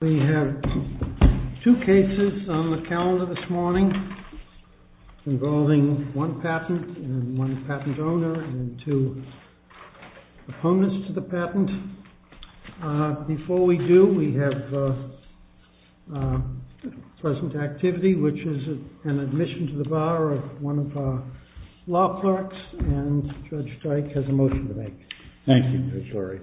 We have two cases on the calendar this morning involving one patent and one patent owner and two opponents to the patent. Before we do, we have present activity, which is an admission to the bar of one of our law clerks, and Judge Dyke has a motion to make. Thank you, Judge Lurie.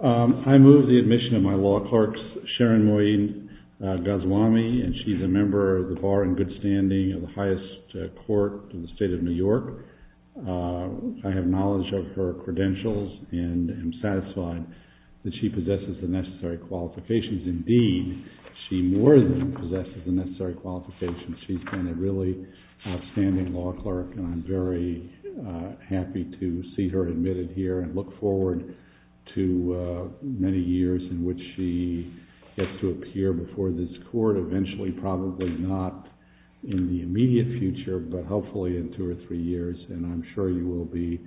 I move the admission of my law clerk, Sharon Moeen-Goswami, and she's a member of the bar in good standing of the highest court in the state of New York. I have knowledge of her credentials and am satisfied that she possesses the necessary qualifications. Indeed, she more than possesses the necessary qualifications. She's been a really outstanding law clerk, and I'm very happy to see her admitted here and look forward to many years in which she gets to appear before this court. Eventually, probably not in the immediate future, but hopefully in two or three years, and I'm sure you will be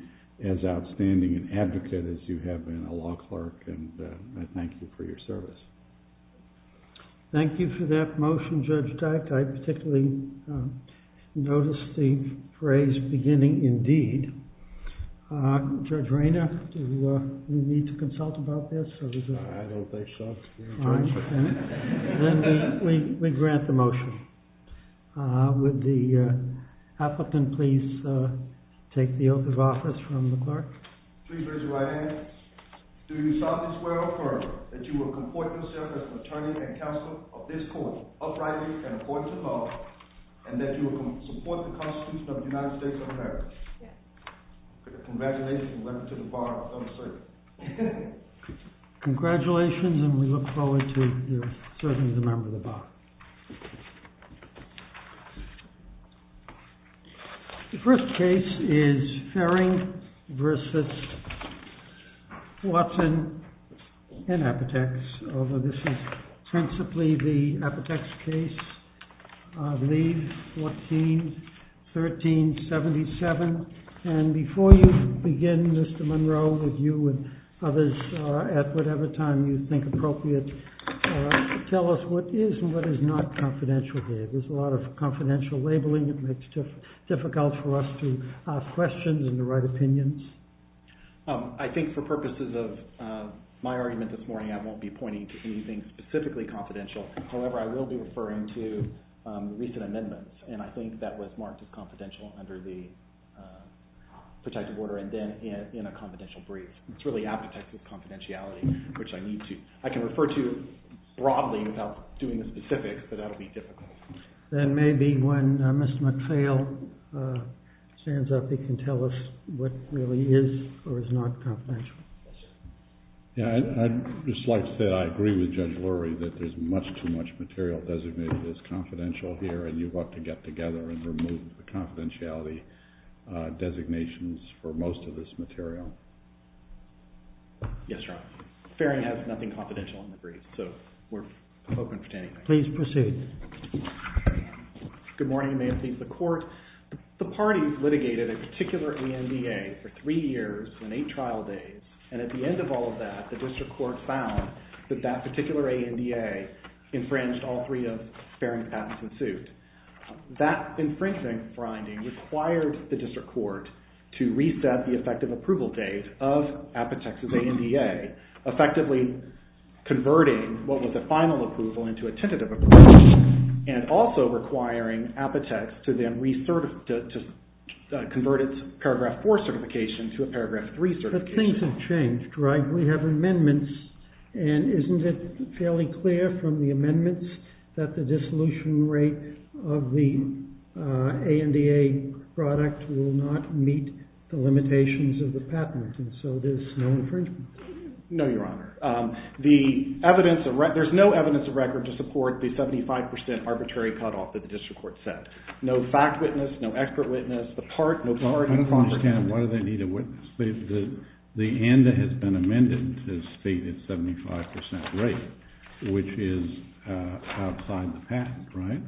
as outstanding an advocate as you have been a law clerk, and I thank you for your service. Thank you for that motion, Judge Dyke. I particularly noticed the phrase beginning in deed. Judge Rayner, do we need to consult about this? I don't think so. Then we grant the motion. Would the applicant please take the oath of office from the clerk? Please raise your right hand. Do you solemnly swear or affirm that you will comport yourself as an attorney and counselor of this court, uprightly and according to law, and that you will support the Constitution of the United States of America? Yes. Congratulations, and welcome to the bar, under certainty. Congratulations, and we look forward to serving as a member of the bar. The first case is Farring v. Watson and Apotex, although this is principally the Apotex case, I believe, 14-13-77, and before you begin, Mr. Monroe, with you and others, at whatever time you think appropriate, tell us what is and what is not. Confidentiality is not confidential here. There's a lot of confidential labeling that makes it difficult for us to ask questions and the right opinions. I think for purposes of my argument this morning, I won't be pointing to anything specifically confidential. However, I will be referring to recent amendments, and I think that was marked as confidential under the protective order and then in a confidential brief. It's really Apotex's confidentiality, which I need to. I can refer to it broadly without doing the specifics, but that would be difficult. Then maybe when Mr. McPhail stands up, he can tell us what really is or is not confidential. I'd just like to say I agree with Judge Lurie that there's much too much material designated as confidential here, and you want to get together and remove the confidentiality designations for most of this material. Yes, Your Honor. Fairing has nothing confidential in the brief, so we're open to anything. Please proceed. Good morning, Your Honor. The court, the parties litigated a particular ANDA for three years and eight trial days, and at the end of all of that, the district court found that that particular ANDA infringed all three of Fairing's patents in suit. That infringing finding required the district court to reset the effective approval date of Apotex's ANDA, effectively converting what was a final approval into a tentative approval, and also requiring Apotex to then convert its Paragraph 4 certification to a Paragraph 3 certification. But things have changed, right? We have amendments, and isn't it fairly clear from the amendments that the dissolution rate of the ANDA product will not meet the limitations of the patent, and so there's no infringement? No, Your Honor. There's no evidence of record to support the 75% arbitrary cutoff that the district court set. No fact witness, no expert witness, the part, no part. I don't understand, why do they need a witness? The ANDA has been amended to state its 75% rate, which is outside the patent, right?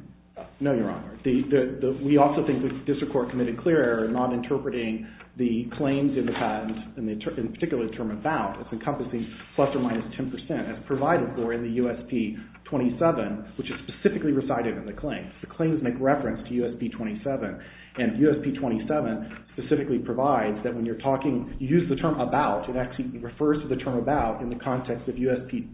No, Your Honor. We also think the district court committed clear error in not interpreting the claims in the patent, in particular the term about, as encompassing plus or minus 10% as provided for in the USP-27, which is specifically recited in the claim. The claims make reference to USP-27, and USP-27 specifically provides that when you're talking, you use the term about, it actually refers to the term about in the context of USP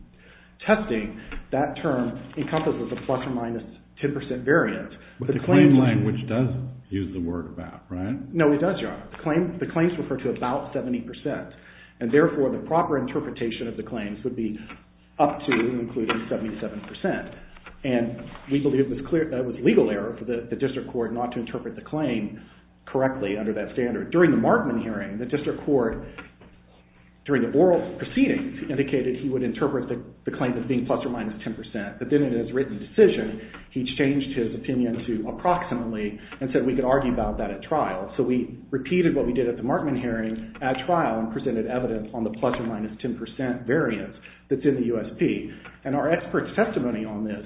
testing, that term encompasses a plus or minus 10% variance. But the claim language does use the word about, right? No, it does, Your Honor. The claims refer to about 70%, and therefore the proper interpretation of the claims would be up to and including 77%. And we believe it was legal error for the district court not to interpret the claim correctly under that standard. During the Markman hearing, the district court, during the oral proceedings, indicated he would interpret the claims as being plus or minus 10%, but then in his written decision, he changed his opinion to approximately, and said we could argue about that at trial. So we repeated what we did at the Markman hearing at trial and presented evidence on the plus or minus 10% variance that's in the USP. And our expert's testimony on this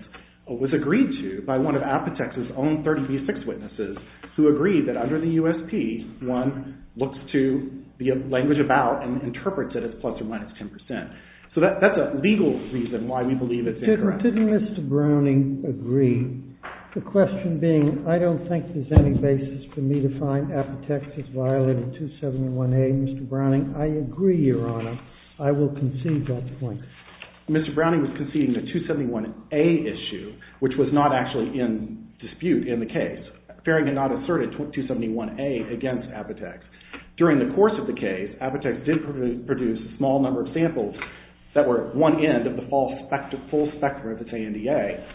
was agreed to by one of Apotex's own 30B6 witnesses, who agreed that under the USP, one looks to the language about and interprets it as plus or minus 10%. So that's a legal reason why we believe it's incorrect. Now, didn't Mr. Browning agree? The question being, I don't think there's any basis for me to find Apotex as violating 271A. Mr. Browning, I agree, Your Honor. I will concede that point. Mr. Browning was conceding the 271A issue, which was not actually in dispute in the case. Faring had not asserted 271A against Apotex. During the course of the case, Apotex did produce a small number of samples that were at one end of the full spectrum of its ANDA.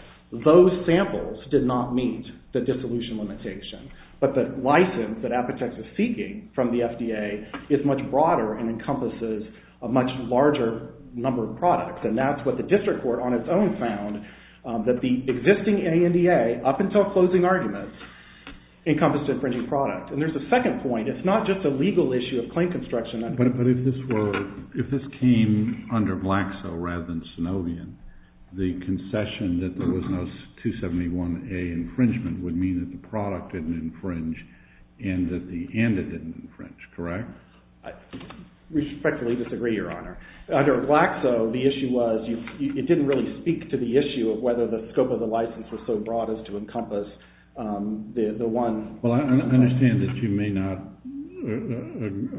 Those samples did not meet the dissolution limitation. But the license that Apotex was seeking from the FDA is much broader and encompasses a much larger number of products. And that's what the district court on its own found, that the existing ANDA, up until closing arguments, encompassed infringing product. And there's a second point. It's not just a legal issue of claim construction. But if this came under Vlaxo rather than Synovian, the concession that there was no 271A infringement would mean that the product didn't infringe and that the ANDA didn't infringe, correct? I respectfully disagree, Your Honor. Under Vlaxo, the issue was it didn't really speak to the issue of whether the scope of the license was so broad as to encompass the one. Well, I understand that you may not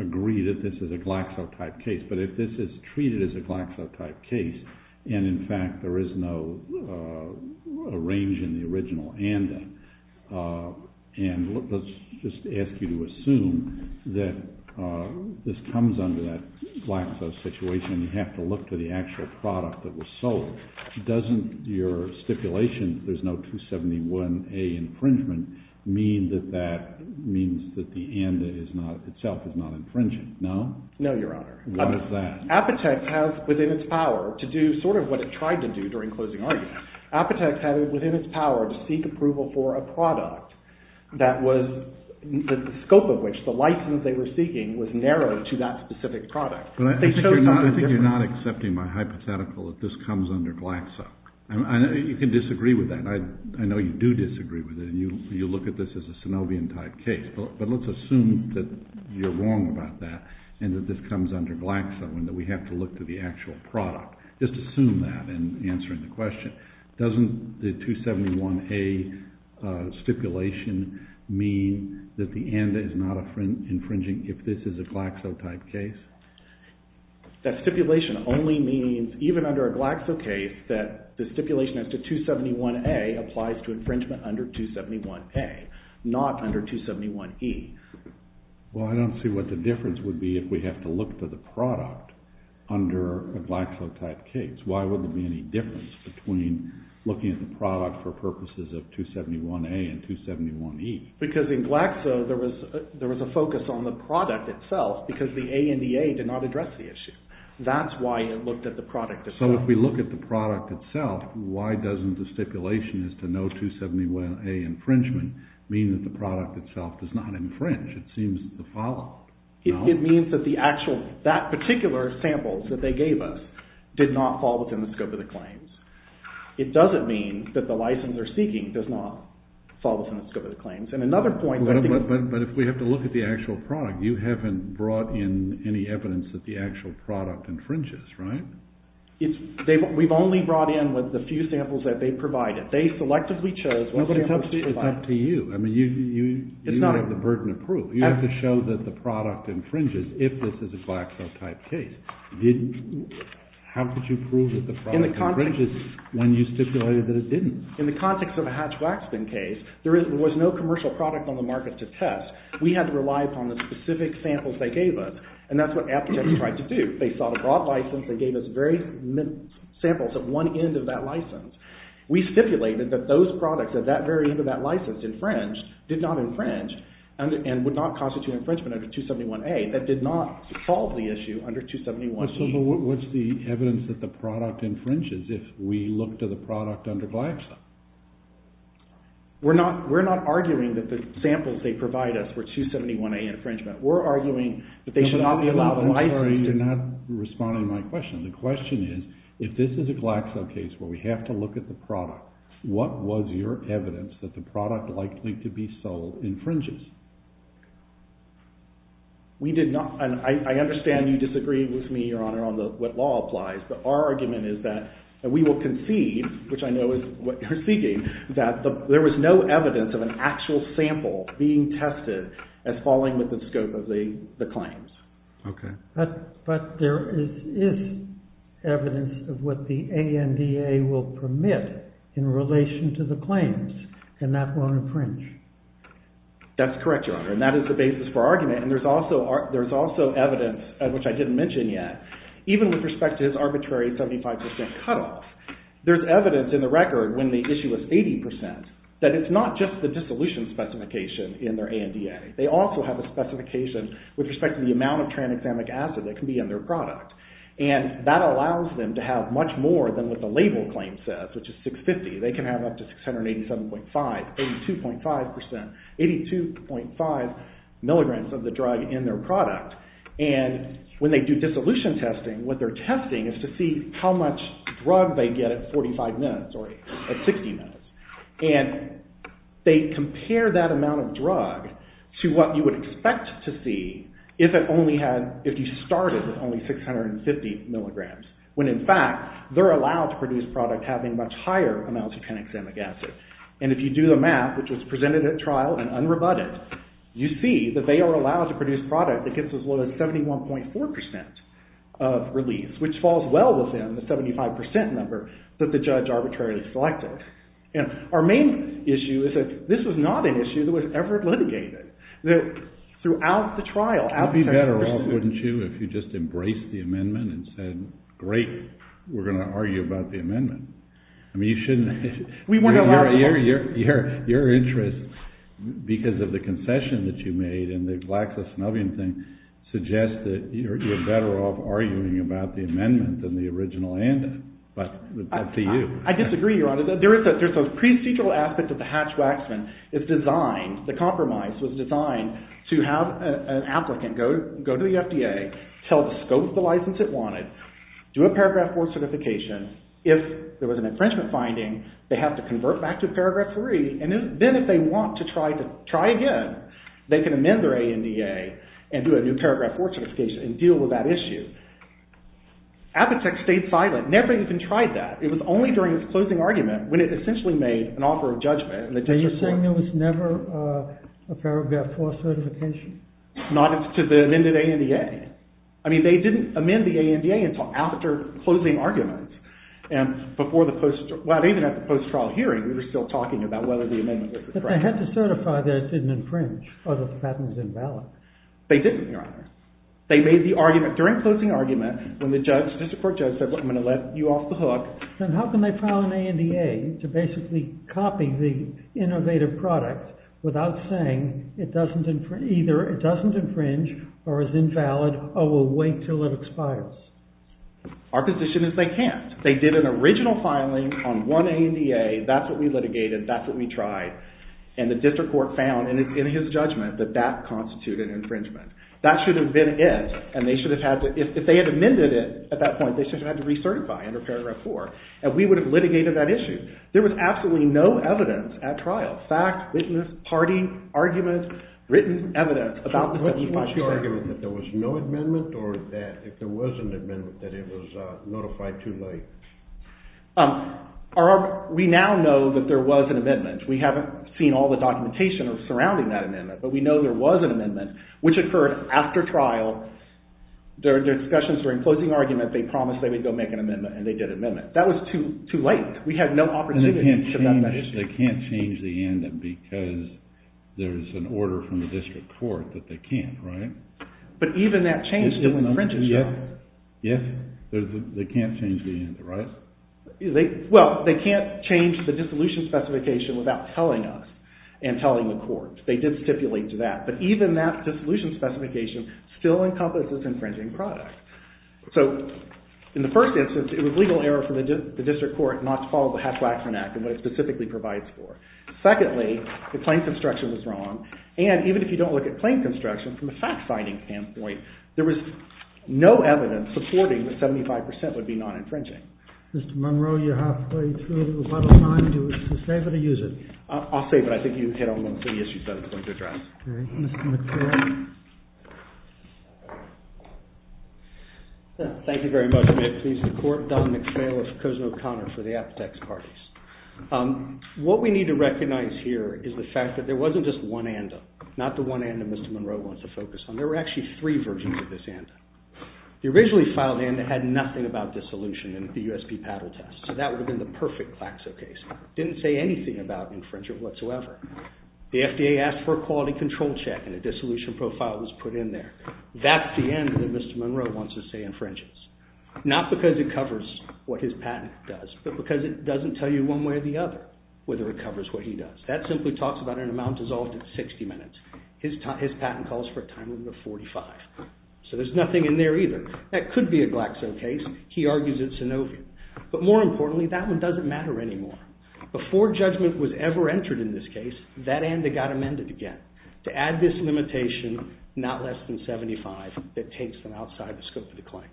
agree that this is a Vlaxo-type case, but if this is treated as a Vlaxo-type case and, in fact, there is no range in the original ANDA, and let's just ask you to assume that this comes under that Vlaxo situation and you have to look to the actual product that was sold, doesn't your stipulation that there's no 271A infringement mean that that means that the ANDA itself is not infringing, no? No, Your Honor. What is that? Appetect has within its power to do sort of what it tried to do during closing arguments. Appetect had within its power to seek approval for a product that was – the scope of which, the license they were seeking, was narrow to that specific product. I think you're not accepting my hypothetical that this comes under Vlaxo. You can disagree with that. I know you do disagree with it and you look at this as a synovian-type case, but let's assume that you're wrong about that and that this comes under Vlaxo and that we have to look to the actual product. Just assume that in answering the question. Doesn't the 271A stipulation mean that the ANDA is not infringing if this is a Vlaxo-type case? That stipulation only means, even under a Vlaxo case, that the stipulation as to 271A applies to infringement under 271A, not under 271E. Well, I don't see what the difference would be if we have to look to the product under a Vlaxo-type case. Why would there be any difference between looking at the product for purposes of 271A and 271E? Because in Vlaxo, there was a focus on the product itself because the ANDA did not address the issue. That's why it looked at the product itself. But why doesn't the stipulation as to no 271A infringement mean that the product itself does not infringe? It seems to follow. It means that the actual, that particular sample that they gave us did not fall within the scope of the claims. It doesn't mean that the license they're seeking does not fall within the scope of the claims. But if we have to look at the actual product, you haven't brought in any evidence that the actual product infringes, right? We've only brought in with the few samples that they provided. They selectively chose what samples to provide. It's up to you. I mean, you have the burden of proof. You have to show that the product infringes if this is a Vlaxo-type case. How could you prove that the product infringes when you stipulated that it didn't? In the context of a Hatch-Waxman case, there was no commercial product on the market to test. We had to rely upon the specific samples they gave us, and that's what AptX tried to do. They sought a broad license. They gave us various samples at one end of that license. We stipulated that those products at that very end of that license did not infringe and would not constitute infringement under 271A. That did not solve the issue under 271B. So what's the evidence that the product infringes if we look to the product under Vlaxo? We're not arguing that the samples they provide us were 271A infringement. We're arguing that they should not be allowed license. I'm sorry, you're not responding to my question. The question is, if this is a Vlaxo case where we have to look at the product, what was your evidence that the product likely to be sold infringes? We did not. I understand you disagree with me, Your Honor, on what law applies, but our argument is that we will concede, which I know is what you're seeking, that there was no evidence of an actual sample being tested as falling within the scope of the claims. Okay. But there is evidence of what the ANDA will permit in relation to the claims, and that won't infringe. That's correct, Your Honor, and that is the basis for argument. And there's also evidence, which I didn't mention yet, even with respect to his arbitrary 75 percent cutoff, there's evidence in the record when the issue was 80 percent that it's not just the dissolution specification in their ANDA. They also have a specification with respect to the amount of tranexamic acid that can be in their product, and that allows them to have much more than what the label claim says, which is 650. They can have up to 687.5, 82.5 percent, 82.5 milligrams of the drug in their product. And when they do dissolution testing, what they're testing is to see how much drug they get at 45 minutes or at 60 minutes. And they compare that amount of drug to what you would expect to see if you started with only 650 milligrams, when in fact they're allowed to produce product having much higher amounts of tranexamic acid. And if you do the math, which was presented at trial and unrebutted, you see that they are allowed to produce product that gets as low as 71.4 percent of release, which falls well within the 75 percent number that the judge arbitrarily selected. And our main issue is that this was not an issue that was ever litigated. Throughout the trial, out of 10 percent... It would be better off, wouldn't you, if you just embraced the amendment and said, great, we're going to argue about the amendment. I mean, you shouldn't... We wouldn't allow... Your interest, because of the concession that you made in the Vlaxisnovian thing, suggests that you're better off arguing about the amendment than the original amendment. But that's up to you. I disagree, Your Honor. There's those procedural aspects of the Hatch-Waxman. It's designed, the compromise was designed, to have an applicant go to the FDA, tell it the scope of the license it wanted, do a paragraph 4 certification. If there was an infringement finding, they have to convert back to paragraph 3. And then if they want to try again, they can amend their ANDA and do a new paragraph 4 certification and deal with that issue. Appetek stayed silent, never even tried that. It was only during its closing argument when it essentially made an offer of judgment. Are you saying there was never a paragraph 4 certification? Not to the amended ANDA. I mean, they didn't amend the ANDA until after closing argument. And before the post... Well, even at the post-trial hearing, we were still talking about whether the amendment was correct. They had to certify that it didn't infringe or that the patent was invalid. They didn't, Your Honor. They made the argument during closing argument when the court judge said, I'm going to let you off the hook. Then how can they file an ANDA to basically copy the innovative product without saying either it doesn't infringe or is invalid or we'll wait until it expires? Our position is they can't. They did an original filing on one ANDA. That's what we litigated. That's what we tried. And the district court found in his judgment that that constituted infringement. That should have been it. And they should have had to... If they had amended it at that point, they should have had to recertify under paragraph 4. And we would have litigated that issue. There was absolutely no evidence at trial, fact, witness, party, argument, written evidence, about the 75-year argument. What's your argument? That there was no amendment or that if there was an amendment, that it was notified too late? We now know that there was an amendment. We haven't seen all the documentation surrounding that amendment, but we know there was an amendment, which occurred after trial. Their discussions were in closing argument. They promised they would go make an amendment and they did an amendment. That was too late. We had no opportunity to have that issue. They can't change the ANDA because there's an order from the district court that they can't, right? But even that change didn't infringe itself. Yes. They can't change the ANDA, right? Well, they can't change the dissolution specification without telling us and telling the court. They did stipulate to that. But even that dissolution specification still encompasses infringing product. So in the first instance, it was legal error from the district court not to follow the Hess-Waxman Act and what it specifically provides for. Secondly, the claim construction was wrong. And even if you don't look at claim construction, from a fact-finding standpoint, there was no evidence supporting that 75% would be non-infringing. Mr. Monroe, you're halfway through. Do you want to save it or use it? I'll save it. I think you hit on one of the issues that I was going to address. Okay. Mr. McPhail? Thank you very much. May it please the court, Don McPhail of Kozma-O'Connor for the Apotex Parties. What we need to recognize here is the fact that there wasn't just one ANDA, not the one ANDA Mr. Monroe wants to focus on. There were actually three versions of this ANDA. The originally filed ANDA had nothing about dissolution in the USP-PADL test, so that would have been the perfect Claxo case. It didn't say anything about infringement whatsoever. The FDA asked for a quality control check and a dissolution profile was put in there. That's the end that Mr. Monroe wants to say infringes. Not because it covers what his patent does, but because it doesn't tell you one way or the other whether it covers what he does. That simply talks about an amount dissolved at 60 minutes. His patent calls for a time limit of 45. So there's nothing in there either. That could be a Claxo case. He argues it's synovia. But more importantly, that one doesn't matter anymore. Before judgment was ever entered in this case, that ANDA got amended again to add this limitation, not less than 75, that takes them outside the scope of the claims.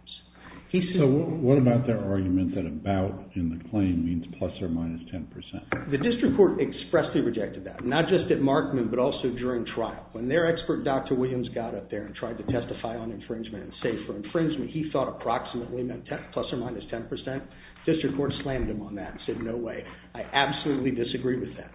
So what about their argument that about in the claim means plus or minus 10%? The district court expressly rejected that, not just at Markman, but also during trial. When their expert, Dr. Williams, got up there and tried to testify on infringement and say for infringement he thought approximately meant plus or minus 10%, district court slammed him on that and said, no way. I absolutely disagree with that.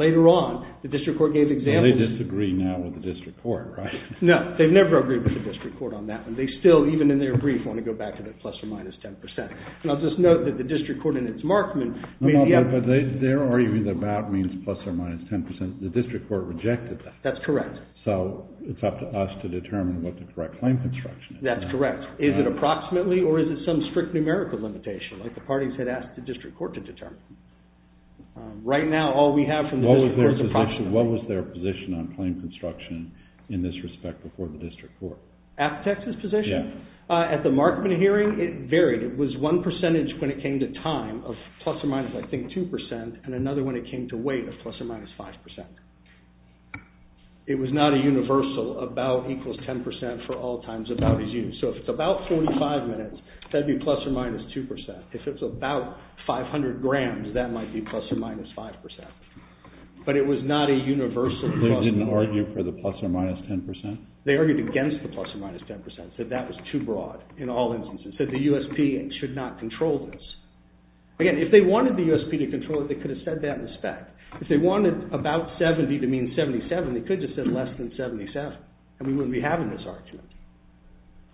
Later on, the district court gave examples. They disagree now with the district court, right? No. They've never agreed with the district court on that one. They still, even in their brief, want to go back to the plus or minus 10%. And I'll just note that the district court in its Markman made the effort. But they're arguing that about means plus or minus 10%. The district court rejected that. That's correct. So it's up to us to determine what the correct claim construction is. That's correct. Is it approximately or is it some strict numerical limitation like the parties had asked the district court to determine? Right now, all we have from the district court is approximately. What was their position on claim construction in this respect before the district court? At the Texas position? Yeah. At the Markman hearing, it varied. It was one percentage when it came to time of plus or minus, I think, 2%, and another when it came to weight of plus or minus 5%. It was not a universal about equals 10% for all times about is used. So if it's about 45 minutes, that'd be plus or minus 2%. If it's about 500 grams, that might be plus or minus 5%. But it was not a universal plus or minus. They didn't argue for the plus or minus 10%? They argued against the plus or minus 10%, said that was too broad in all instances, said the USP should not control this. Again, if they wanted the USP to control it, they could have said that in the spec. If they wanted about 70 to mean 77, they could have just said less than 77, and we wouldn't be having this argument.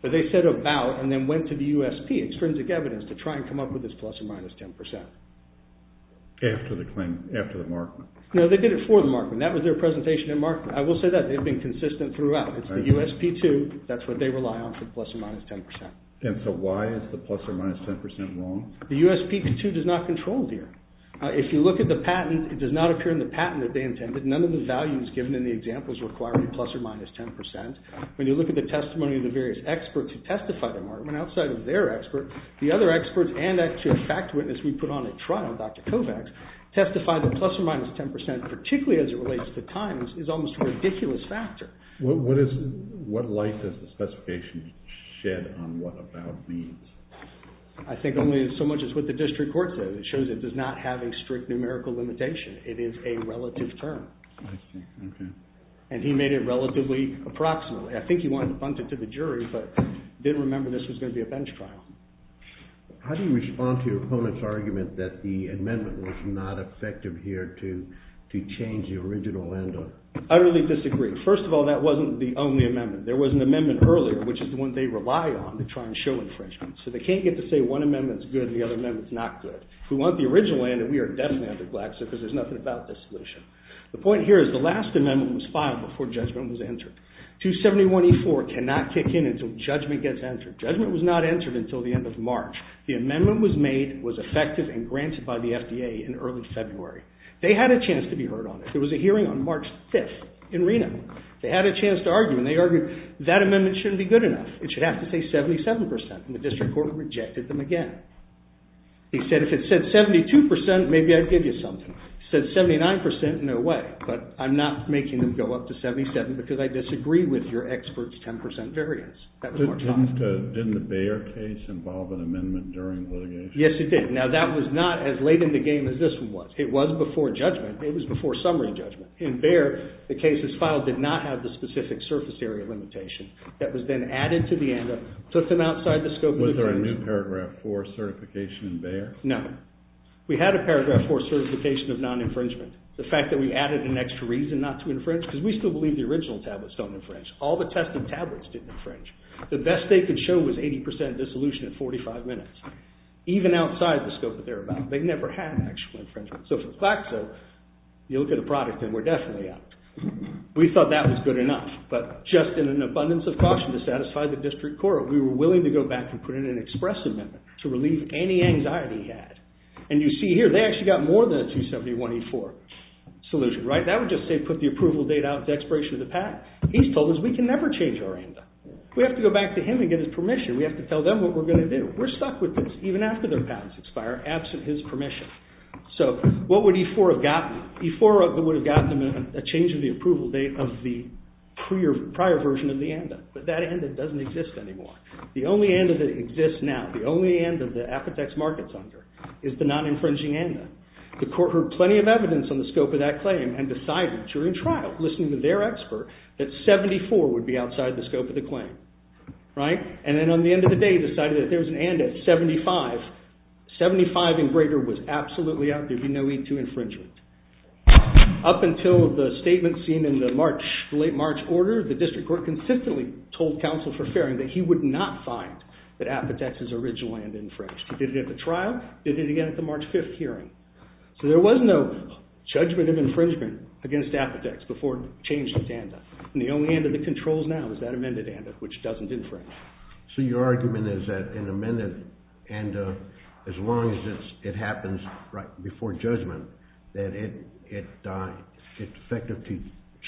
But they said about and then went to the USP, extrinsic evidence, to try and come up with this plus or minus 10%. After the claim, after the Markman? No, they did it for the Markman. That was their presentation at Markman. I will say that. They've been consistent throughout. It's the USP too. That's what they rely on for the plus or minus 10%. And so why is the plus or minus 10% wrong? The USP too does not control it here. If you look at the patent, it does not appear in the patent that they intended. None of the values given in the examples require a plus or minus 10%. When you look at the testimony of the various experts who testified at Markman, outside of their expert, the other experts and actually a fact witness we put on at trial, Dr. Kovacs, testified that plus or minus 10%, particularly as it relates to times, is almost a ridiculous factor. What light does the specification shed on what about means? I think only so much as what the district court says. It shows it does not have a strict numerical limitation. It is a relative term. And he made it relatively approximate. I think he wanted to punt it to the jury, but didn't remember this was going to be a bench trial. How do you respond to your opponent's argument that the amendment was not effective here to change the original end of it? I really disagree. First of all, that wasn't the only amendment. There was an amendment earlier, which is the one they rely on to try and show infringement. So they can't get to say one amendment's good and the other amendment's not good. We want the original end, and we are definitely under Glaxo because there's nothing about this solution. The point here is the last amendment was filed before judgment was entered. 271E4 cannot kick in until judgment gets entered. Judgment was not entered until the end of March. The amendment was made, was effective, and granted by the FDA in early February. They had a chance to be heard on it. There was a hearing on March 5th in Reno. They had a chance to argue, and they argued that amendment shouldn't be good enough. It should have to say 77%. And the district court rejected them again. They said, if it said 72%, maybe I'd give you something. It said 79%, no way. But I'm not making them go up to 77% because I disagree with your expert's 10% variance. Didn't the Bayer case involve an amendment during litigation? Yes, it did. Now, that was not as late in the game as this one was. It was before judgment. It was before summary judgment. In Bayer, the case that's filed did not have the specific surface area limitation. That was then added to the amendment, took them outside the scope of the infringement. Was there a new paragraph 4 certification in Bayer? No. We had a paragraph 4 certification of non-infringement. The fact that we added an extra reason not to infringe, because we still believe the original tablets don't infringe. All the tested tablets didn't infringe. The best they could show was 80% dissolution in 45 minutes, even outside the scope that they're about. They never had actual infringement. So for Claxo, you look at the product, and we're definitely out. We thought that was good enough. But just in an abundance of caution to satisfy the district court, we were willing to go back and put in an express amendment to relieve any anxiety he had. And you see here, they actually got more than a 271E4 solution, right? That would just say put the approval date out as expiration of the patent. He's told us we can never change our agenda. We have to go back to him and get his permission. We have to tell them what we're going to do. We're stuck with this, even after their patents expire, absent his permission. So what would E4 have gotten? E4 would have gotten a change of the approval date of the prior version of the ANDA. But that ANDA doesn't exist anymore. The only ANDA that exists now, the only ANDA that Apotex Market's under, is the non-infringing ANDA. The court heard plenty of evidence on the scope of that claim and decided, during trial, listening to their expert, that 74 would be outside the scope of the claim. And then on the end of the day, decided that there was an ANDA at 75. 75 and greater was absolutely out. There'd be no need to infringe it. Up until the statement seen in the late March order, the district court consistently told counsel for fairing that he would not find that Apotex's original ANDA infringed. He did it at the trial. He did it again at the March 5 hearing. So there was no judgment of infringement against Apotex before it changed its ANDA. And the only ANDA that controls now is that amended ANDA, which doesn't infringe. So your argument is that an amended ANDA, as long as it happens right before judgment, that it's effective to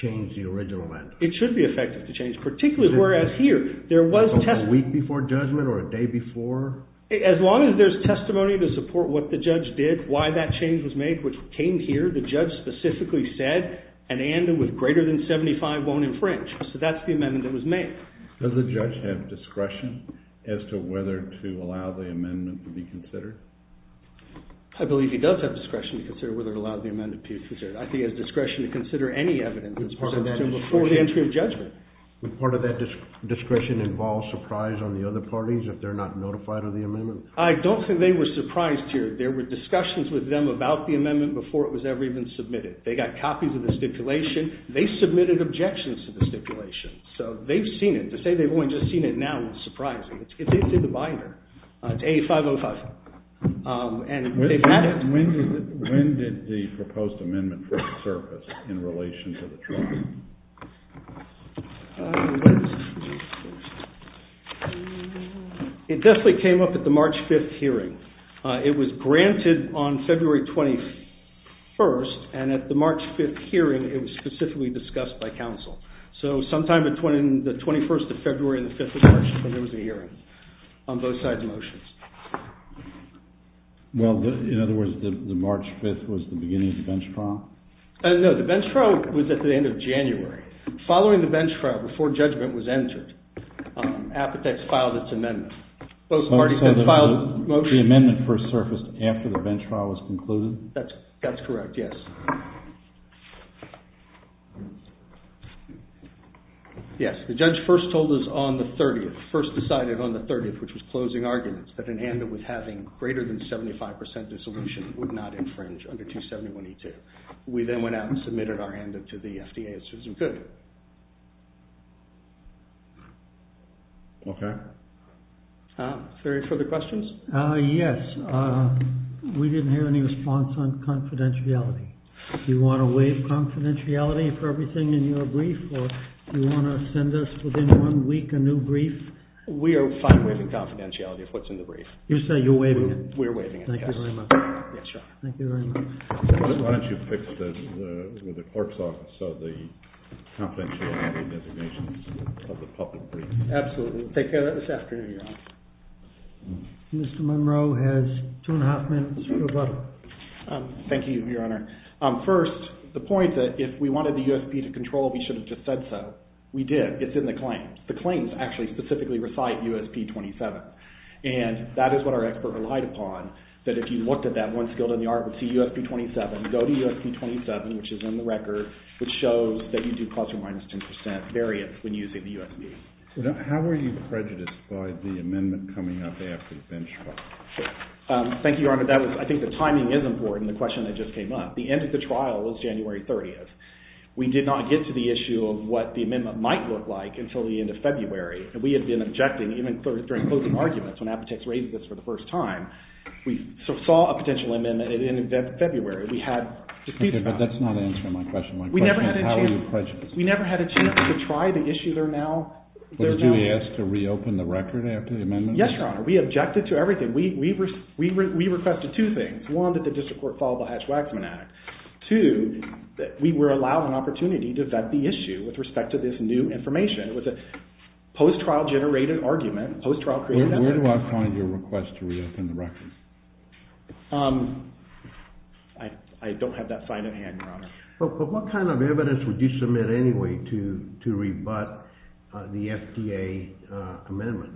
change the original ANDA. It should be effective to change, particularly whereas here, there was testimony. A week before judgment or a day before? As long as there's testimony to support what the judge did, why that change was made, which came here, the judge specifically said, an ANDA with greater than 75 won't infringe. So that's the amendment that was made. Does the judge have discretion as to whether to allow the amendment to be considered? I believe he does have discretion to consider whether to allow the amendment to be considered. I think he has discretion to consider any evidence that's presented to him before the entry of judgment. Would part of that discretion involve surprise on the other parties if they're not notified of the amendment? I don't think they were surprised here. There were discussions with them about the amendment before it was ever even submitted. They got copies of the stipulation. They submitted objections to the stipulation. So they've seen it. To say they've only just seen it now is surprising. It's in the binder. It's A505. And they've met it. When did the proposed amendment first surface in relation to the trial? It definitely came up at the March 5th hearing. It was granted on February 21st. And at the March 5th hearing, it was specifically discussed by counsel. So sometime between the 21st of February and the 5th of March, there was a hearing on both sides' motions. Well, in other words, the March 5th was the beginning of the bench trial? No, the bench trial was at the end of January. Following the bench trial, before judgment was entered, Apotex filed its amendment. Both parties then filed motions. The amendment first surfaced after the bench trial was concluded? That's correct, yes. Yes, the judge first told us on the 30th, first decided on the 30th, which was closing arguments, that an amendment with having greater than 75% dissolution would not infringe under 271E2. We then went out and submitted our amendment to the FDA as soon as we could. OK. Are there any further questions? Yes. We didn't hear any response on confidentiality. Do you want to waive confidentiality for everything in your brief? Or do you want to send us, within one week, a new brief? We are fine waiving confidentiality of what's in the brief. You say you're waiving it? We're waiving it, yes. Thank you very much. Yes, Your Honor. Thank you very much. Why don't you fix this with the clerk's office of the confidentiality designations of the public brief? Absolutely. We'll take care of that this afternoon, Your Honor. Mr. Monroe has two and a half minutes for rebuttal. Thank you, Your Honor. First, the point that if we wanted the USP to control, we should have just said so. We did. It's in the claim. The claims actually specifically recite USP-27. And that is what our expert relied upon, that if you looked at that once, go to the article, see USP-27. Go to USP-27, which is in the record, which shows that you do plus or minus 10% variance when using the USP. How were you prejudiced by the amendment coming up after the benchmark? Thank you, Your Honor. I think the timing is important, the question that just came up. The end of the trial was January 30th. We did not get to the issue of what the amendment might look like until the end of February. And we had been objecting, even during closing arguments, when Apotex raised this for the first time. We saw a potential amendment in February. We had to speak about it. OK, but that's not answering my question. My question is, how are you prejudiced? We never had a chance to try the issue. Did you ask to reopen the record after the amendment? Yes, Your Honor. We objected to everything. We requested two things. One, that the district court follow the Hatch-Waxman Act. Two, we were allowed an opportunity to vet the issue with respect to this new information. It was a post-trial generated argument, post-trial created evidence. Where do I find your request to reopen the record? I don't have that sign in hand, Your Honor. But what kind of evidence would you submit anyway to rebut the FDA amendment?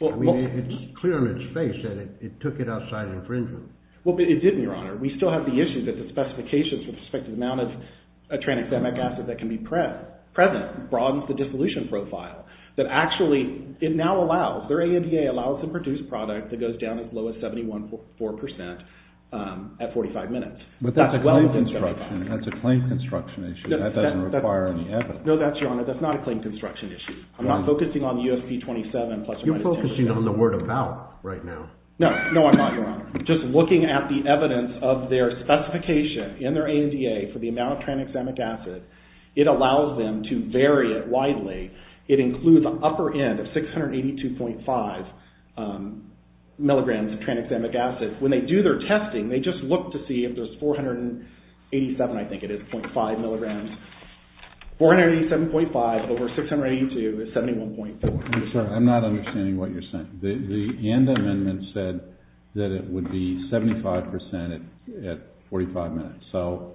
I mean, it's clear on its face that it took it outside infringement. Well, it didn't, Your Honor. We still have the issue that the specifications with respect to the amount of tranexamic acid that can be present broadens the dissolution profile. That actually, it now allows, their ANDA allows them to produce a product that goes down as low as 71.4% at 45 minutes. But that's a claim construction issue. That doesn't require any evidence. No, Your Honor, that's not a claim construction issue. I'm not focusing on the USP-27. You're focusing on the word about right now. No, I'm not, Your Honor. Just looking at the evidence of their specification in their ANDA for the amount of tranexamic acid, it allows them to vary it widely. It includes the upper end of 682.5 milligrams of tranexamic acid. When they do their testing, they just look to see if there's 487, I think it is, .5 milligrams. 487.5 over 682 is 71.4. I'm sorry, I'm not understanding what you're saying. The ANDA amendment said that it would be 75% at 45 minutes. So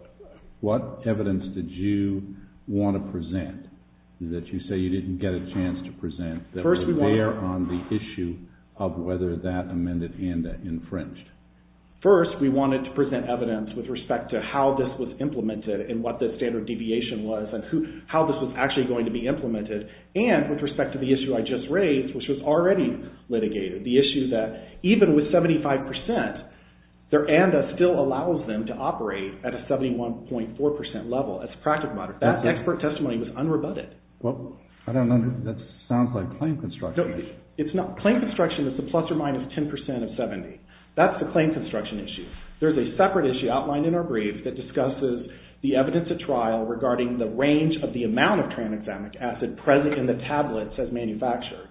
what evidence did you want to present that you say you didn't get a chance to present that was there on the issue of whether that amended ANDA infringed? First, we wanted to present evidence with respect to how this was implemented and what the standard deviation was and how this was actually going to be implemented and with respect to the issue I just raised, which was already litigated, the issue that even with 75%, their ANDA still allows them to operate at a 71.4% level as a practical matter. That expert testimony was unrebutted. I don't understand. That sounds like claim construction. It's not. Claim construction is a plus or minus 10% of 70. That's the claim construction issue. There's a separate issue outlined in our brief that discusses the evidence at trial regarding the range of the amount of tranexamic acid present in the tablets as manufactured.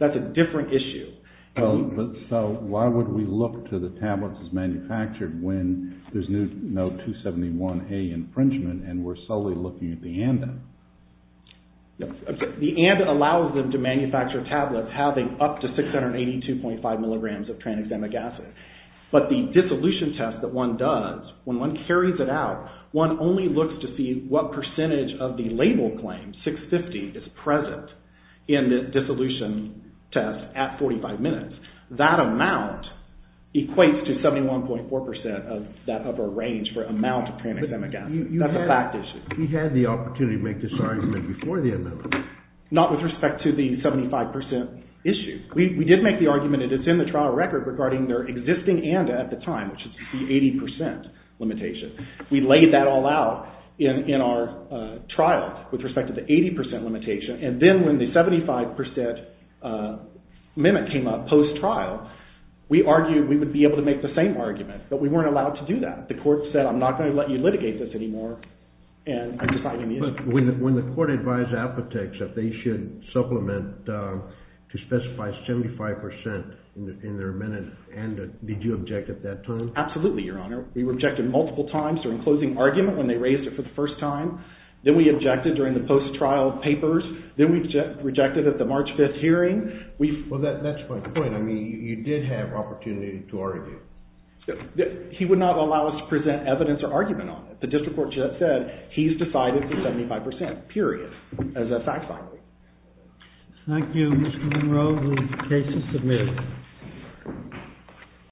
That's a different issue. So why would we look to the tablets as manufactured when there's no 271A infringement and we're solely looking at the ANDA? The ANDA allows them to manufacture tablets having up to 682.5 milligrams of tranexamic acid. But the dissolution test that one does, when one carries it out, one only looks to see what percentage of the label claim, 650, is present in the dissolution test at 45 minutes. That amount equates to 71.4% of that upper range for amount of tranexamic acid. That's a fact issue. You had the opportunity to make this argument before the amendment. Not with respect to the 75% issue. We did make the argument that it's in the trial record regarding their existing ANDA at the time, which is the 80% limitation. We laid that all out in our trial with respect to the 80% limitation, and then when the 75% amendment came up post-trial, we argued we would be able to make the same argument. But we weren't allowed to do that. The court said, I'm not going to let you litigate this anymore, and I'm deciding the issue. When the court advised Apotex that they should supplement to specify 75% in their amendment, did you object at that time? Absolutely, Your Honor. We objected multiple times during closing argument when they raised it for the first time. Then we objected during the post-trial papers. Then we rejected at the March 5th hearing. Well, that's my point. I mean, you did have opportunity to argue. He would not allow us to present evidence or argument on it. The district court just said he's decided for 75%, period, as a fact-finding. Thank you, Mr. Monroe. The case is submitted.